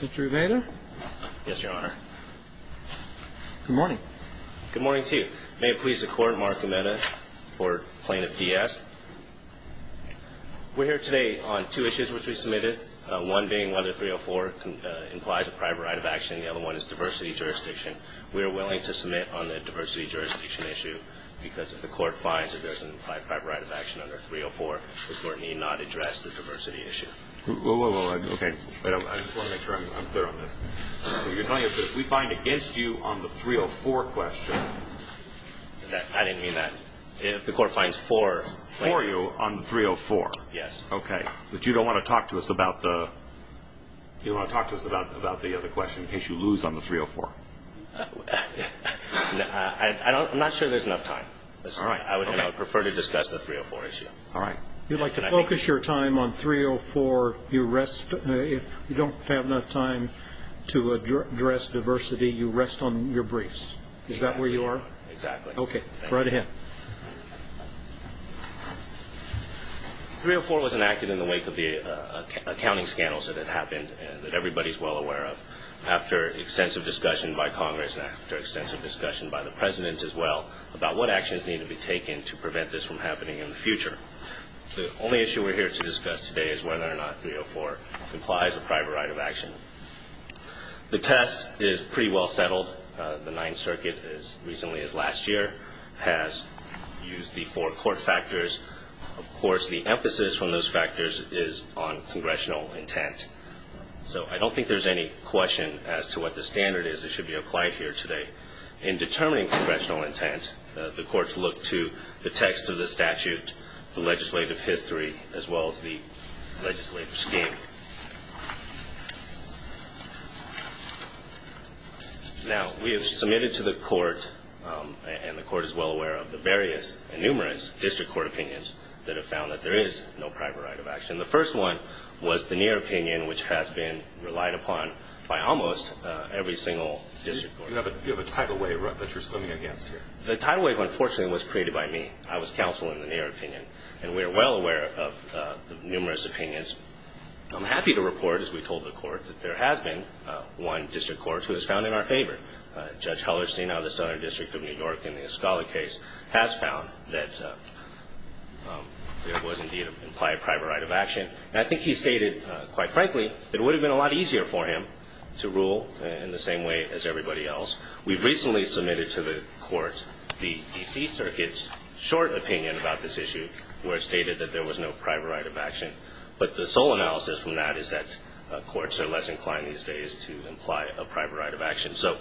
Mr. Umeda? Yes, Your Honor. Good morning. Good morning to you. May it please the Court, Mark Umeda, for Plaintiff Diaz. We're here today on two issues which we submitted, one being whether 304 implies a private right of action. The other one is diversity jurisdiction. We are willing to submit on the diversity jurisdiction issue because if the Court finds that there's an implied private right of action under 304, the Court need not address the diversity issue. Okay. I just want to make sure I'm clear on this. You're telling us that if we find against you on the 304 question... I didn't mean that. If the Court finds for... For you on 304? Yes. Okay. But you don't want to talk to us about the question in case you lose on the 304? I'm not sure there's enough time. All right. I would prefer to discuss the 304 issue. All right. You'd like to focus your time on 304. If you don't have enough time to address diversity, you rest on your briefs. Is that where you are? Exactly. Okay. Right ahead. 304 was enacted in the wake of the accounting scandals that had happened that everybody's well aware of. After extensive discussion by Congress and after extensive discussion by the President as well about what actions need to be taken to prevent this from happening in the future, the only issue we're here to discuss today is whether or not 304 implies a private right of action. The test is pretty well settled. The Ninth Circuit, as recently as last year, has used the four court factors. Of course, the emphasis from those factors is on congressional intent. So I don't think there's any question as to what the standard is that should be applied here today. In determining congressional intent, the courts look to the text of the statute, the legislative history, as well as the legislative scheme. Now, we have submitted to the Court, and the Court is well aware of the various and numerous district court opinions that have found that there is no private right of action. The first one was the Neer opinion, which has been relied upon by almost every single district court. You have a tidal wave that you're swimming against here. The tidal wave, unfortunately, was created by me. I was counsel in the Neer opinion, and we are well aware of the numerous opinions. I'm happy to report, as we told the Court, that there has been one district court who has found in our favor. Judge Hellerstein of the Southern District of New York in the Escala case has found that there was, indeed, an implied private right of action. I think he stated, quite frankly, that it would have been a lot easier for him to rule in the same way as everybody else. We've recently submitted to the Court the D.C. Circuit's short opinion about this issue, where it stated that there was no private right of action. But the sole analysis from that is that courts are less inclined these days to imply a private right of action. So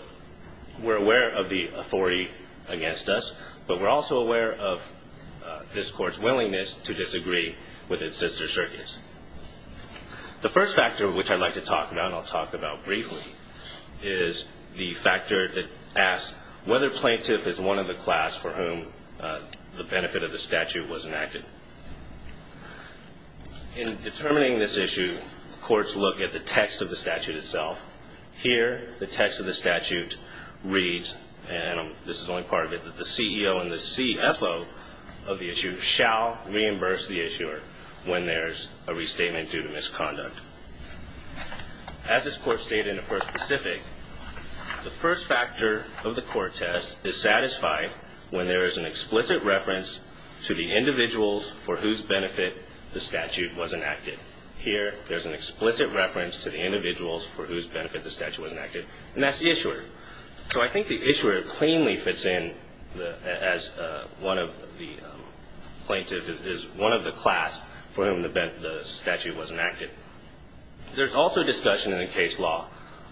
we're aware of the authority against us, but we're also aware of this Court's willingness to disagree with its sister circuits. The first factor, which I'd like to talk about and I'll talk about briefly, is the factor that asks whether a plaintiff is one of the class for whom the benefit of the statute was enacted. In determining this issue, courts look at the text of the statute itself. Here, the text of the statute reads, and this is only part of it, that the CEO and the CFO of the issuer shall reimburse the issuer when there's a restatement due to misconduct. As this Court stated in the first specific, the first factor of the court test is satisfied when there is an explicit reference to the individuals for whose benefit the statute was enacted. Here, there's an explicit reference to the individuals for whose benefit the statute was enacted, and that's the issuer. So I think the issuer cleanly fits in as one of the plaintiffs, as one of the class for whom the statute was enacted. There's also discussion in the case law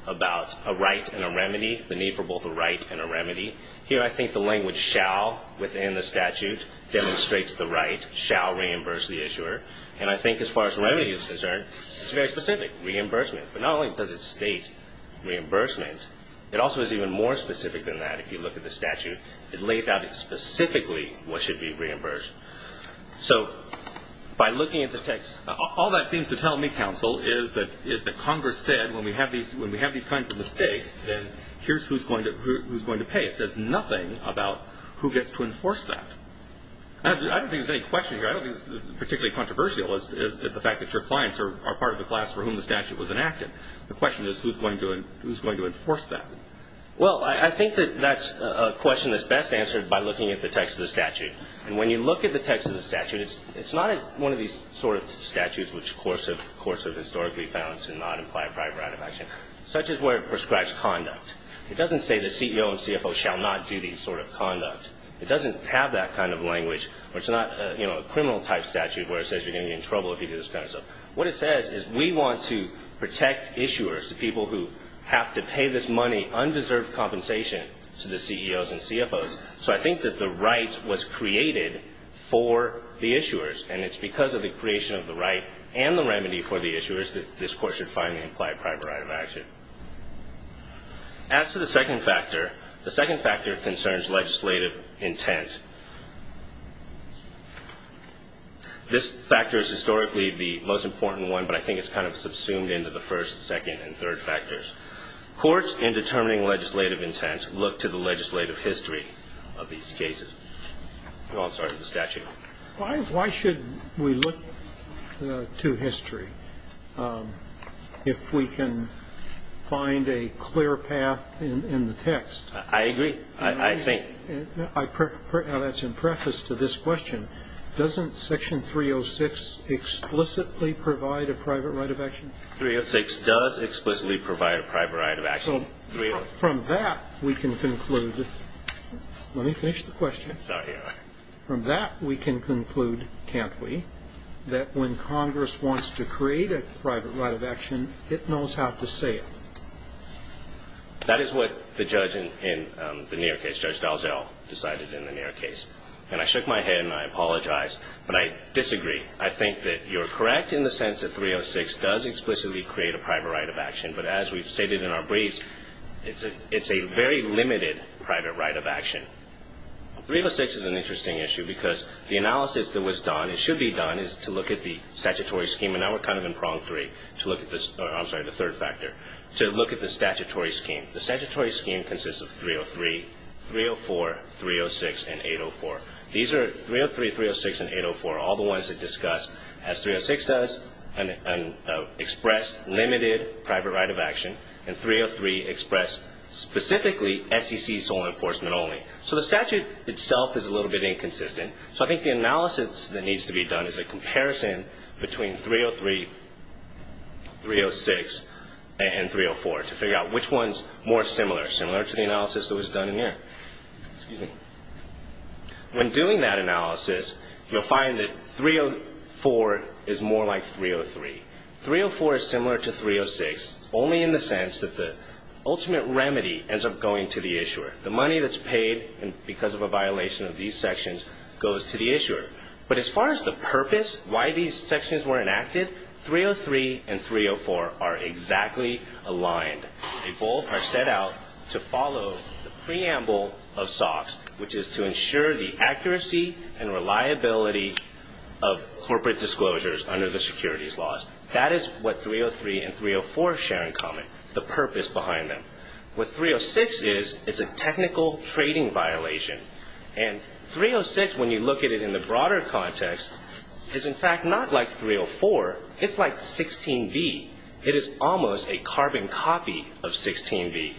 about a right and a remedy, the need for both a right and a remedy. Here, I think the language shall within the statute demonstrates the right, shall reimburse the issuer. And I think as far as the remedy is concerned, it's very specific, reimbursement. But not only does it state reimbursement, it also is even more specific than that if you look at the statute. It lays out specifically what should be reimbursed. So by looking at the text, all that seems to tell me, counsel, is that Congress said when we have these kinds of mistakes, then here's who's going to pay. It says nothing about who gets to enforce that. I don't think there's any question here. I don't think it's particularly controversial is the fact that your clients are part of the class for whom the statute was enacted. The question is who's going to enforce that. Well, I think that that's a question that's best answered by looking at the text of the statute. And when you look at the text of the statute, it's not one of these sort of statutes, which of course have historically found to not imply a prior act of action, such as where it prescribes conduct. It doesn't say the CEO and CFO shall not do these sort of conduct. It doesn't have that kind of language, or it's not, you know, a criminal type statute where it says you're going to be in trouble if you do this kind of stuff. What it says is we want to protect issuers, the people who have to pay this money undeserved compensation to the CEOs and CFOs. So I think that the right was created for the issuers, and it's because of the creation of the right and the remedy for the issuers that this Court should finally imply a prior right of action. As to the second factor, the second factor concerns legislative intent. This factor is historically the most important one, but I think it's kind of subsumed into the first, second, and third factors. Courts, in determining legislative intent, look to the legislative history of these cases. I'm sorry, to the statute. Why should we look to history if we can find a clear path in the text? I agree. I think. Now, that's in preface to this question. Doesn't Section 306 explicitly provide a private right of action? Section 306 does explicitly provide a private right of action. So from that, we can conclude. Let me finish the question. Sorry. From that, we can conclude, can't we, that when Congress wants to create a private right of action, it knows how to say it. That is what the judge in the Neer case, Judge Dalziel, decided in the Neer case. And I shook my head and I apologized, but I disagree. I think that you're correct in the sense that 306 does explicitly create a private right of action, but as we've stated in our briefs, it's a very limited private right of action. 306 is an interesting issue because the analysis that was done, it should be done, is to look at the statutory scheme. And now we're kind of in prong three to look at this. I'm sorry, the third factor, to look at the statutory scheme. The statutory scheme consists of 303, 304, 306, and 804. These are 303, 306, and 804, all the ones that discuss, as 306 does, express limited private right of action, and 303 express specifically SEC sole enforcement only. So the statute itself is a little bit inconsistent. So I think the analysis that needs to be done is a comparison between 303, 306, and 304 to figure out which one's more similar, similar to the analysis that was done in Neer. Excuse me. When doing that analysis, you'll find that 304 is more like 303. 304 is similar to 306 only in the sense that the ultimate remedy ends up going to the issuer. The money that's paid because of a violation of these sections goes to the issuer. But as far as the purpose, why these sections were enacted, 303 and 304 are exactly aligned. They both are set out to follow the preamble of SOX, which is to ensure the accuracy and reliability of corporate disclosures under the securities laws. That is what 303 and 304 share in common, the purpose behind them. What 306 is, it's a technical trading violation. And 306, when you look at it in the broader context, is, in fact, not like 304. It's like 16V. It is almost a carbon copy of 16V.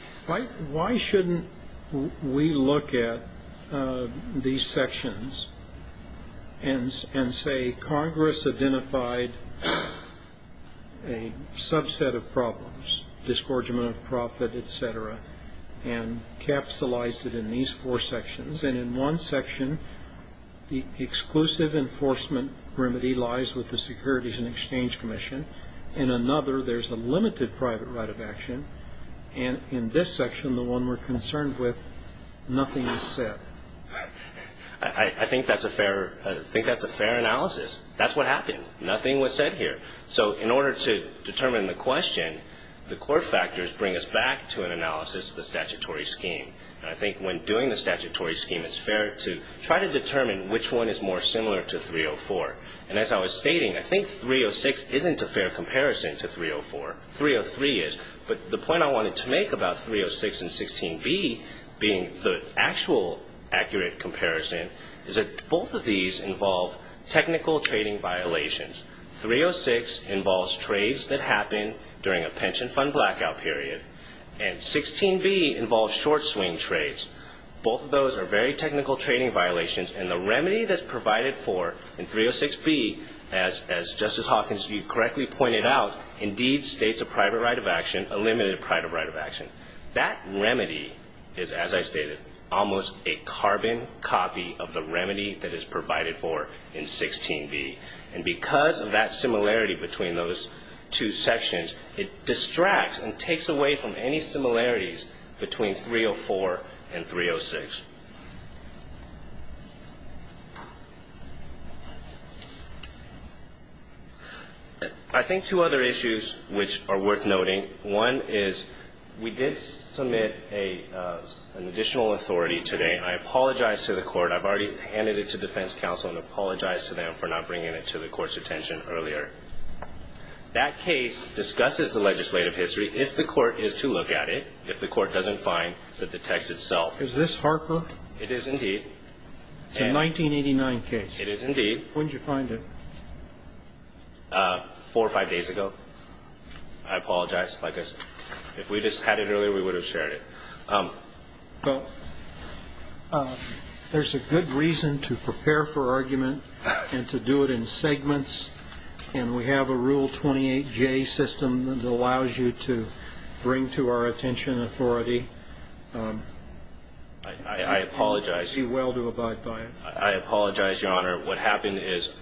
Why shouldn't we look at these sections and say Congress identified a subset of problems, disgorgement of profit, et cetera, and capsulized it in these four sections? And in one section, the exclusive enforcement remedy lies with the Securities and Exchange Commission. In another, there's a limited private right of action. And in this section, the one we're concerned with, nothing is set. I think that's a fair analysis. That's what happened. Nothing was set here. So in order to determine the question, the court factors bring us back to an analysis of the statutory scheme. And I think when doing the statutory scheme, it's fair to try to determine which one is more similar to 304. And as I was stating, I think 306 isn't a fair comparison to 304. 303 is. But the point I wanted to make about 306 and 16B being the actual accurate comparison is that both of these involve technical trading violations. 306 involves trades that happen during a pension fund blackout period. And 16B involves short swing trades. Both of those are very technical trading violations. And the remedy that's provided for in 306B, as Justice Hawkins, you correctly pointed out, indeed states a private right of action, a limited private right of action. That remedy is, as I stated, almost a carbon copy of the remedy that is provided for in 16B. And because of that similarity between those two sections, it distracts and takes away from any similarities between 304 and 306. I think two other issues which are worth noting. One is we did submit an additional authority today. I apologize to the court. I've already handed it to defense counsel and apologize to them for not bringing it to the court's attention earlier. That case discusses the legislative history. If the court is to look at it, if the court doesn't find that the text itself. Is this Harker? It is, indeed. It's a 1989 case. It is, indeed. When did you find it? Four or five days ago. I apologize. If we just had it earlier, we would have shared it. Well, there's a good reason to prepare for argument and to do it in segments. And we have a Rule 28J system that allows you to bring to our attention authority. I apologize. I see well to abide by it. I apologize, Your Honor. What happened is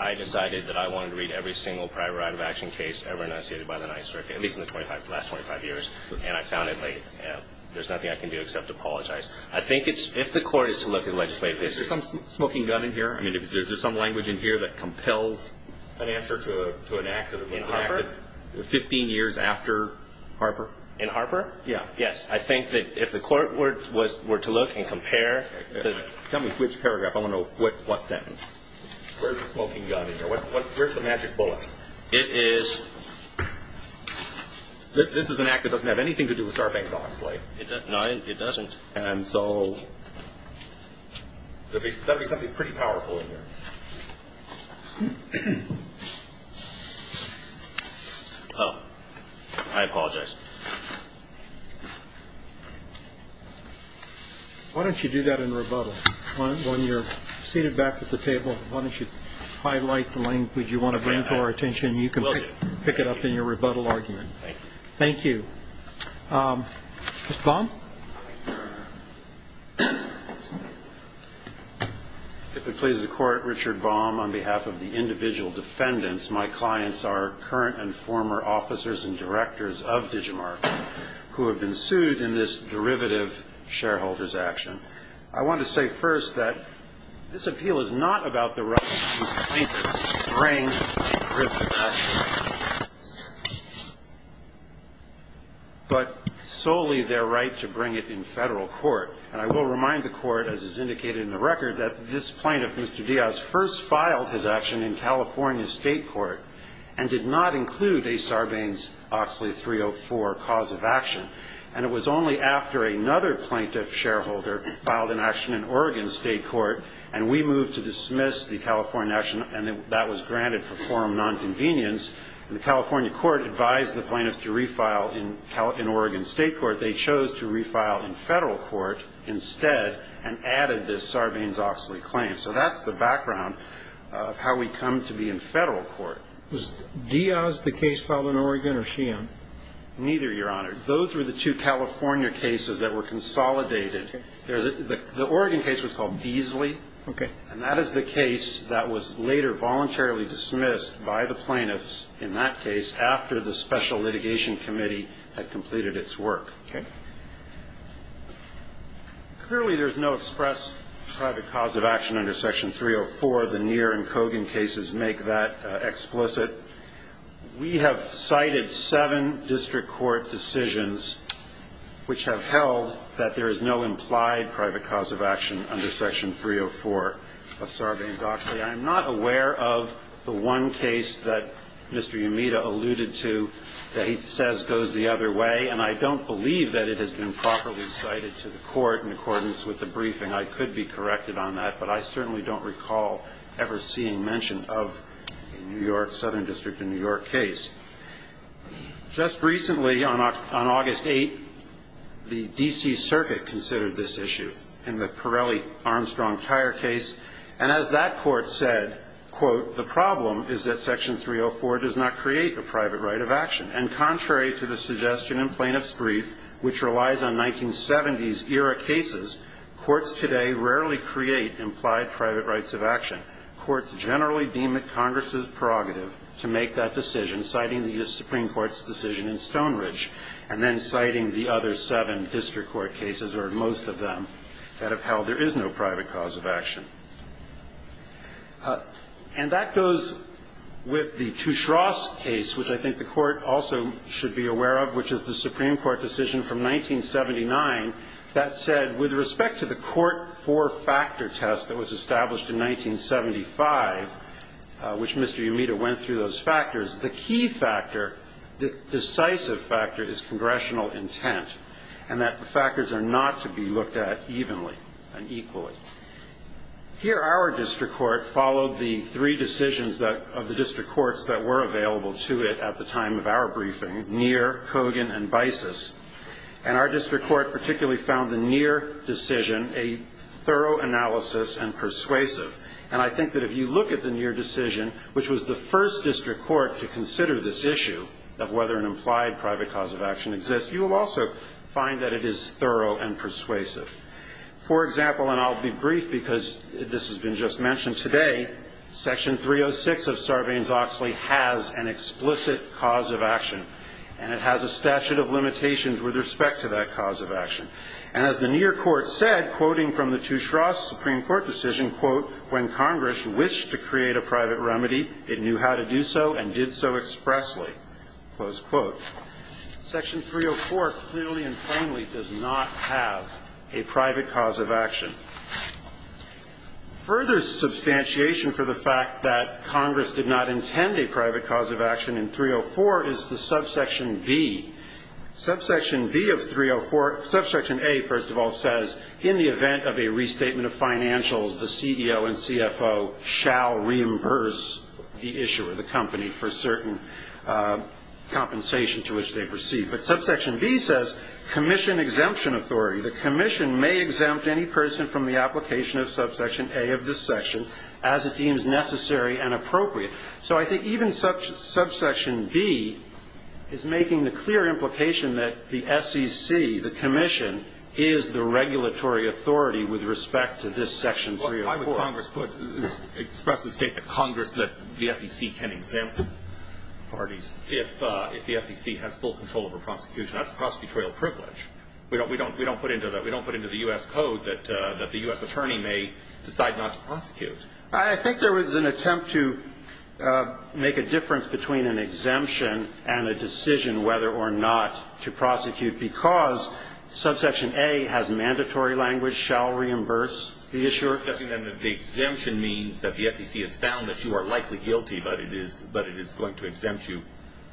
I decided that I wanted to read every single private right of action case ever enunciated by the Ninth Circuit, at least in the last 25 years, and I found it late. There's nothing I can do except apologize. I think if the court is to look at legislative history. Is there some smoking gun in here? I mean, is there some language in here that compels an answer to an act that was enacted 15 years after Harper? In Harper? Yes. I think that if the court were to look and compare. Tell me which paragraph. I want to know what sentence. Where's the smoking gun in there? Where's the magic bullet? It is. This is an act that doesn't have anything to do with Sarbanes-Oxley. No, it doesn't. And so there'd be something pretty powerful in here. Oh, I apologize. Why don't you do that in rebuttal? When you're seated back at the table, why don't you highlight the language you want to bring to our attention? You can pick it up in your rebuttal argument. Thank you. Thank you. Mr. Baum? If it pleases the court, Richard Baum, on behalf of the individual defendants, my clients are current and former officers and directors of DigiMark who have been sued in this derivative shareholders action. I want to say first that this appeal is not about the right to bring a derivative action, but solely their right to bring it in federal court. And I will remind the court, as is indicated in the record, that this plaintiff, Mr. Diaz, first filed his action in California State Court and did not include a Sarbanes-Oxley 304 cause of action. And it was only after another plaintiff shareholder filed an action in Oregon State Court and we moved to dismiss the California action, and that was granted for forum nonconvenience, and the California court advised the plaintiffs to refile in Oregon State Court, they chose to refile in federal court instead and added this Sarbanes-Oxley claim. So that's the background of how we come to be in federal court. Was Diaz the case filed in Oregon or Sheehan? Neither, Your Honor. Those were the two California cases that were consolidated. Okay. The Oregon case was called Beasley. Okay. And that is the case that was later voluntarily dismissed by the plaintiffs in that case after the Special Litigation Committee had completed its work. Okay. Clearly there's no express private cause of action under Section 304. The Neer and Kogan cases make that explicit. We have cited seven district court decisions which have held that there is no implied private cause of action under Section 304 of Sarbanes-Oxley. I'm not aware of the one case that Mr. Yamita alluded to that he says goes the other way, and I don't believe that it has been properly cited to the court in accordance with the briefing. I could be corrected on that, but I certainly don't recall ever seeing mention of New York, a southern district in New York, case. Just recently, on August 8th, the D.C. Circuit considered this issue in the Pirelli-Armstrong Tire case, and as that court said, quote, the problem is that Section 304 does not create a private right of action. And contrary to the suggestion in plaintiff's brief, which relies on 1970s-era cases, courts today rarely create implied private rights of action. In fact, courts generally deem it Congress's prerogative to make that decision, citing the Supreme Court's decision in Stonebridge, and then citing the other seven district court cases, or most of them, that have held there is no private cause of action. And that goes with the Tushross case, which I think the Court also should be aware of, which is the Supreme Court decision from 1979 that said, with respect to the court four-factor test that was established in 1975, which Mr. Yamita went through those factors, the key factor, the decisive factor, is congressional intent, and that the factors are not to be looked at evenly and equally. Here, our district court followed the three decisions of the district courts that were available to it at the time of our briefing, Neer, Cogan, and Bises. And our district court particularly found the Neer decision a thorough analysis and persuasive. And I think that if you look at the Neer decision, which was the first district court to consider this issue of whether an implied private cause of action exists, you will also find that it is thorough and persuasive. For example, and I'll be brief because this has been just mentioned today, Section 306 of Sarbanes-Oxley has an explicit cause of action, and it has a statute of limitations with respect to that cause of action. And as the Neer court said, quoting from the Tusharas Supreme Court decision, quote, when Congress wished to create a private remedy, it knew how to do so and did so expressly, close quote. Section 304 clearly and plainly does not have a private cause of action. Further substantiation for the fact that Congress did not intend a private cause of action in 304 is the Subsection B. Subsection B of 304, Subsection A, first of all, says in the event of a restatement of financials, the CEO and CFO shall reimburse the issuer, the company, for certain compensation to which they've received. But Subsection B says commission exemption authority. The commission may exempt any person from the application of Subsection A of this section as it deems necessary and appropriate. So I think even Subsection B is making the clear implication that the SEC, the commission, is the regulatory authority with respect to this Section 304. Why would Congress put the state that Congress, that the SEC can exempt parties if the SEC has full control over prosecution? That's prosecutorial privilege. We don't put into the U.S. Code that the U.S. attorney may decide not to prosecute. I think there was an attempt to make a difference between an exemption and a decision whether or not to prosecute because Subsection A has mandatory language, shall reimburse the issuer. The exemption means that the SEC has found that you are likely guilty, but it is going to exempt you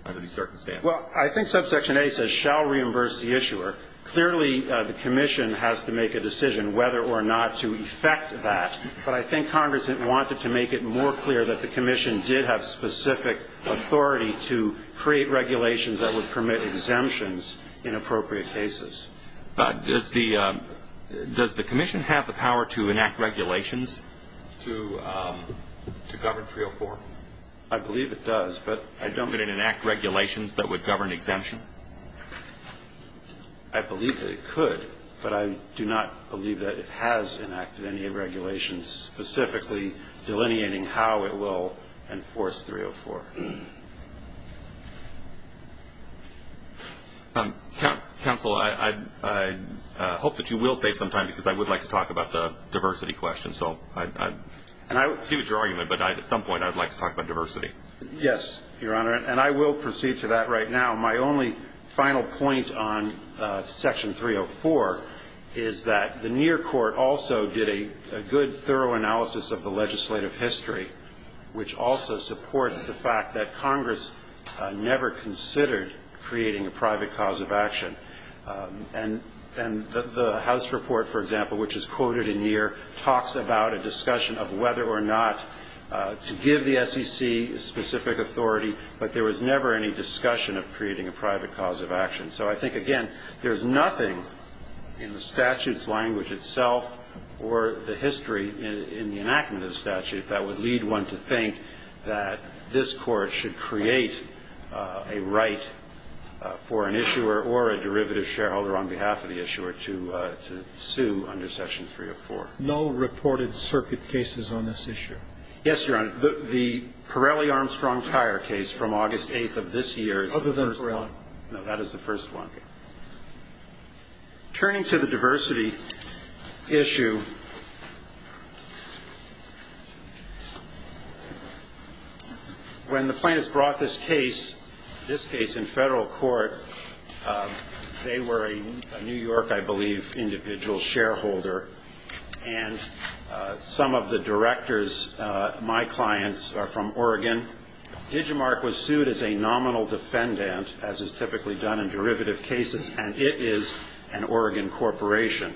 under these circumstances. Well, I think Subsection A says shall reimburse the issuer. Clearly, the commission has to make a decision whether or not to effect that. But I think Congress wanted to make it more clear that the commission did have specific authority to create regulations that would permit exemptions in appropriate cases. But does the commission have the power to enact regulations to govern 304? I believe it does, but I don't know. Would it enact regulations that would govern exemption? I believe that it could, but I do not believe that it has enacted any regulations specifically delineating how it will enforce 304. Counsel, I hope that you will save some time because I would like to talk about the diversity question. So I see what your argument, but at some point I would like to talk about diversity. Yes, Your Honor. And I will proceed to that right now. My only final point on Section 304 is that the Neer Court also did a good, thorough analysis of the legislative history, which also supports the fact that Congress never considered creating a private cause of action. And the House report, for example, which is quoted in Neer, talks about a discussion of whether or not to give the SEC specific authority, but there was never any discussion of creating a private cause of action. So I think, again, there's nothing in the statute's language itself or the history in the enactment of the statute that would lead one to think that this Court should create a right for an issuer or a derivative shareholder on behalf of the issuer to sue under Section 304. No reported circuit cases on this issue? Yes, Your Honor. The Pirelli-Armstrong tire case from August 8th of this year is the first one. Other than Pirelli? No, that is the first one. Okay. Turning to the diversity issue, when the plaintiffs brought this case, this case in federal court, they were a New York, I believe, individual shareholder. And some of the directors, my clients, are from Oregon. Digimarc was sued as a nominal defendant, as is typically done in derivative cases, and it is an Oregon corporation.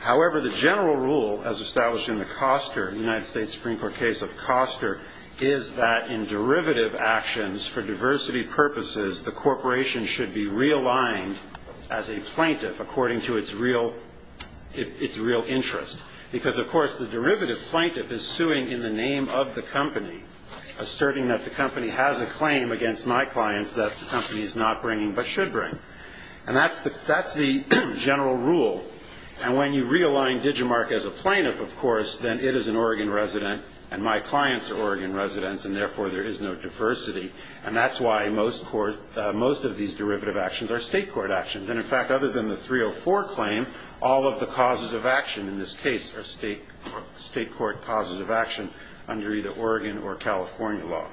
However, the general rule as established in the Coster, United States Supreme Court case of Coster, is that in derivative actions for diversity purposes, the Because, of course, the derivative plaintiff is suing in the name of the company, asserting that the company has a claim against my clients that the company is not bringing but should bring. And that's the general rule. And when you realign Digimarc as a plaintiff, of course, then it is an Oregon resident, and my clients are Oregon residents, and therefore there is no diversity. And that's why most of these derivative actions are state court actions. And, in fact, other than the 304 claim, all of the causes of action in this case are state court causes of action under either Oregon or California law.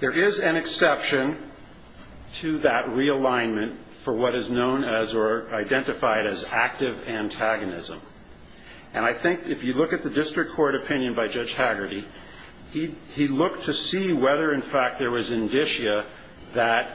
There is an exception to that realignment for what is known as or identified as active antagonism. And I think if you look at the district court opinion by Judge Hagerty, he looked to see whether, in fact, there was indicia that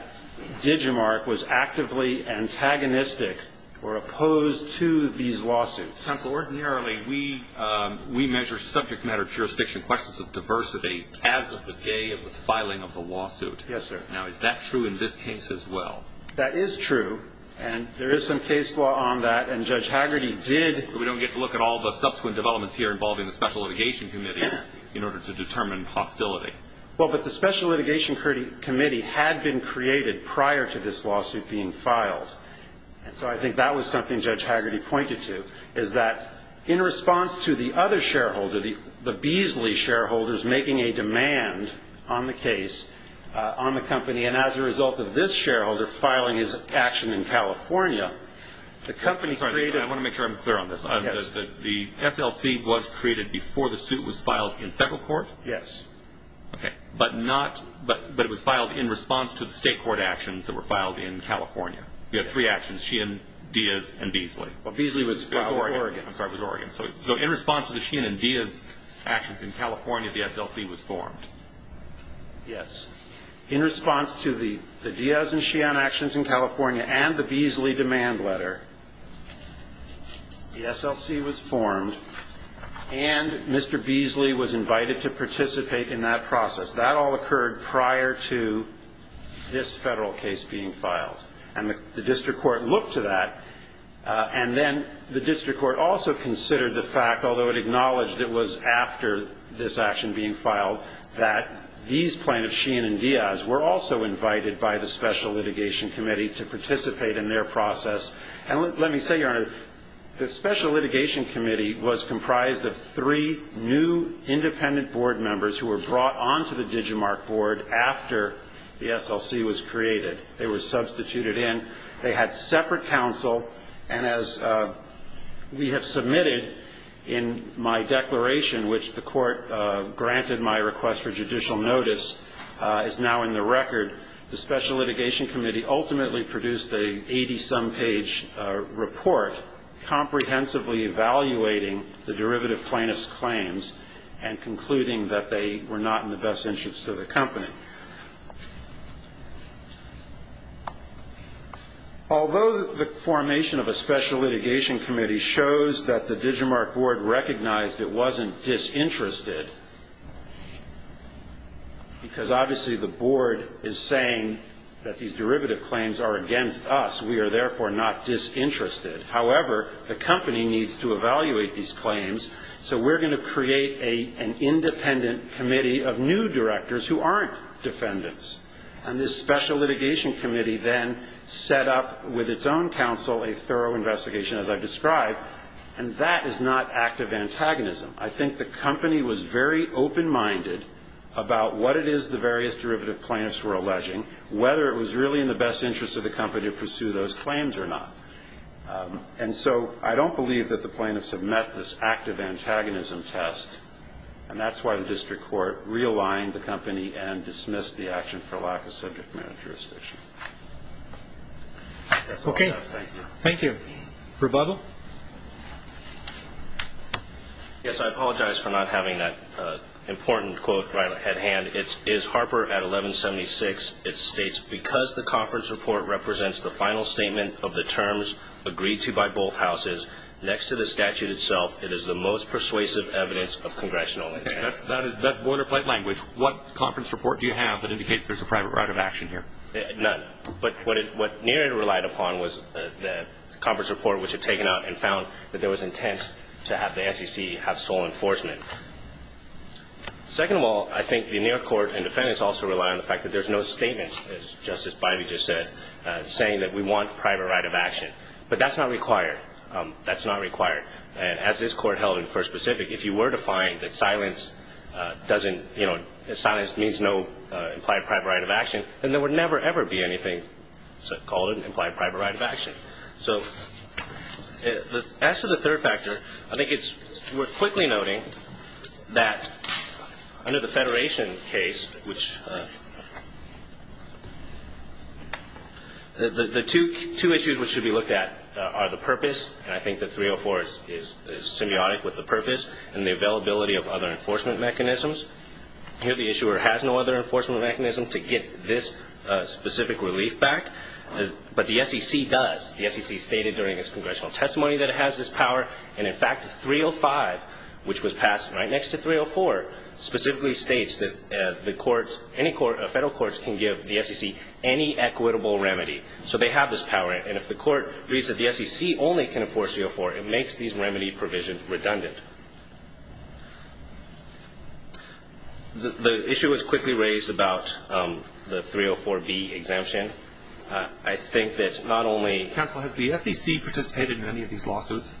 Digimarc was actively antagonistic or opposed to these lawsuits. Justice Alito, ordinarily, we measure subject matter, jurisdiction, questions of diversity as of the day of the filing of the lawsuit. Yes, sir. Now, is that true in this case as well? That is true, and there is some case law on that, and Judge Hagerty did We don't get to look at all the subsequent developments here involving the Special Well, but the Special Litigation Committee had been created prior to this lawsuit being filed. And so I think that was something Judge Hagerty pointed to, is that in response to the other shareholder, the Beasley shareholders, making a demand on the case, on the company, and as a result of this shareholder filing his action in California, the company created I want to make sure I'm clear on this. The SLC was created before the suit was filed in federal court? Yes. Okay. But it was filed in response to the state court actions that were filed in California. You had three actions, Sheehan, Diaz, and Beasley. Well, Beasley was filed in Oregon. I'm sorry, it was Oregon. So in response to the Sheehan and Diaz actions in California, the SLC was formed. Yes. In response to the Diaz and Sheehan actions in California and the Beasley demand letter, the SLC was formed, and Mr. Beasley was invited to participate in that process. That all occurred prior to this federal case being filed. And the district court looked to that, and then the district court also considered the fact, although it acknowledged it was after this action being filed, that these plaintiffs, Sheehan and Diaz, were also invited by the Special Litigation Committee to participate in their process And let me say, Your Honor, the Special Litigation Committee was comprised of three new independent board members who were brought onto the DigiMark board after the SLC was created. They were substituted in. They had separate counsel, and as we have submitted in my declaration, which the court granted my request for judicial notice is now in the record, the Special Litigation Committee ultimately produced a 80-some page report comprehensively evaluating the derivative plaintiffs' claims and concluding that they were not in the best interest of the company. Although the formation of a Special Litigation Committee shows that the DigiMark board recognized it wasn't disinterested, because obviously the board is saying that these derivative claims are against us, we are therefore not disinterested. However, the company needs to evaluate these claims, so we're going to create an independent committee of new directors who aren't defendants. And this Special Litigation Committee then set up, with its own counsel, a thorough investigation, as I've described, and that is not active antagonism. I think the company was very open-minded about what it is the various derivative plaintiffs were alleging, whether it was really in the best interest of the company to pursue those claims or not. And so I don't believe that the plaintiffs have met this active antagonism test, and that's why the district court realigned the company and dismissed the action for lack of subject matter jurisdiction. That's all I have. Thank you. Thank you. Rebuttal? Yes, I apologize for not having that important quote right at hand. It is Harper at 1176. It states, Because the conference report represents the final statement of the terms agreed to by both houses, next to the statute itself, it is the most persuasive evidence of congressional intent. That's boilerplate language. What conference report do you have that indicates there's a private right of action here? None. But what Neeraj relied upon was the conference report, which had taken out and found that there was intent to have the SEC have sole enforcement. Second of all, I think the Neeraj court and defendants also rely on the fact that there's no statement, as Justice Bybee just said, saying that we want private right of action. But that's not required. That's not required. And as this court held in the First Pacific, if you were to find that silence means no implied private right of action, then there would never, ever be anything called an implied private right of action. So as to the third factor, I think it's worth quickly noting that under the Federation case, which the two issues which should be looked at are the purpose, and I think that 304 is symbiotic with the purpose, and the availability of other enforcement mechanisms. Here the issuer has no other enforcement mechanism to get this specific relief back. But the SEC does. The SEC stated during its congressional testimony that it has this power. And, in fact, 305, which was passed right next to 304, specifically states that the court, any court, federal courts can give the SEC any equitable remedy. So they have this power. And if the court reads that the SEC only can enforce 304, it makes these remedy provisions redundant. The issue was quickly raised about the 304B exemption. I think that not only – Counsel, has the SEC participated in any of these lawsuits?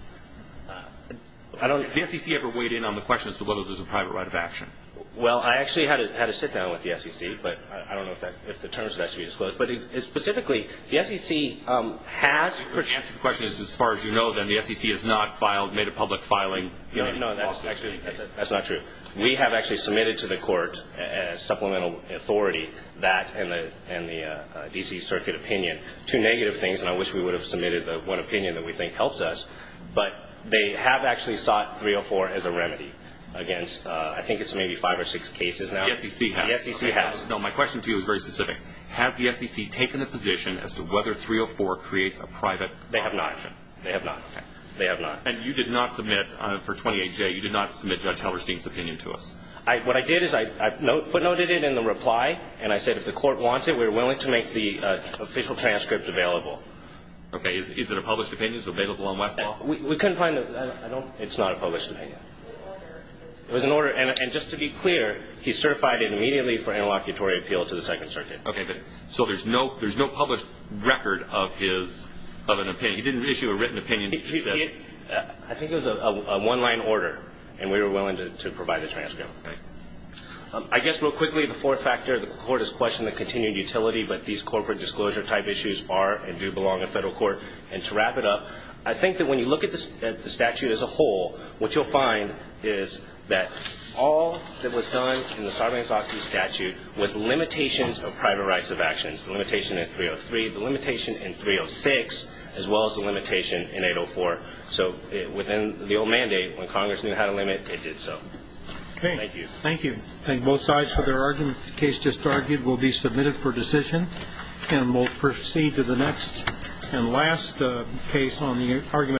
I don't – Has the SEC ever weighed in on the question as to whether there's a private right of action? Well, I actually had a sit-down with the SEC, but I don't know if the terms of that should be disclosed. But specifically, the SEC has – The answer to the question is, as far as you know, then, the SEC has not made a public filing. No, that's not true. We have actually submitted to the court, as supplemental authority, that and the D.C. Circuit opinion. Two negative things, and I wish we would have submitted the one opinion that we think helps us. But they have actually sought 304 as a remedy against – I think it's maybe five or six cases now. The SEC has. The SEC has. No, my question to you is very specific. Has the SEC taken a position as to whether 304 creates a private – They have not. They have not. They have not. And you did not submit – For 28J, you did not submit Judge Hellerstein's opinion to us. What I did is I footnoted it in the reply, and I said if the court wants it, we're willing to make the official transcript available. Okay. Is it a published opinion? Is it available on Westlaw? I don't – It's not a published opinion. It was an order. It was an order. Okay. So there's no published record of his – of an opinion. He didn't issue a written opinion. He just said – I think it was a one-line order, and we were willing to provide the transcript. Okay. I guess real quickly, the fourth factor, the court has questioned the continued utility, but these corporate disclosure type issues are and do belong in federal court. And to wrap it up, I think that when you look at the statute as a whole, what you'll find is that all that was done in the The limitation in 303, the limitation in 306, as well as the limitation in 804. So within the old mandate, when Congress knew how to limit, it did so. Okay. Thank you. Thank you. Thank both sides for their argument. The case just argued will be submitted for decision. And we'll proceed to the next and last case on the argument.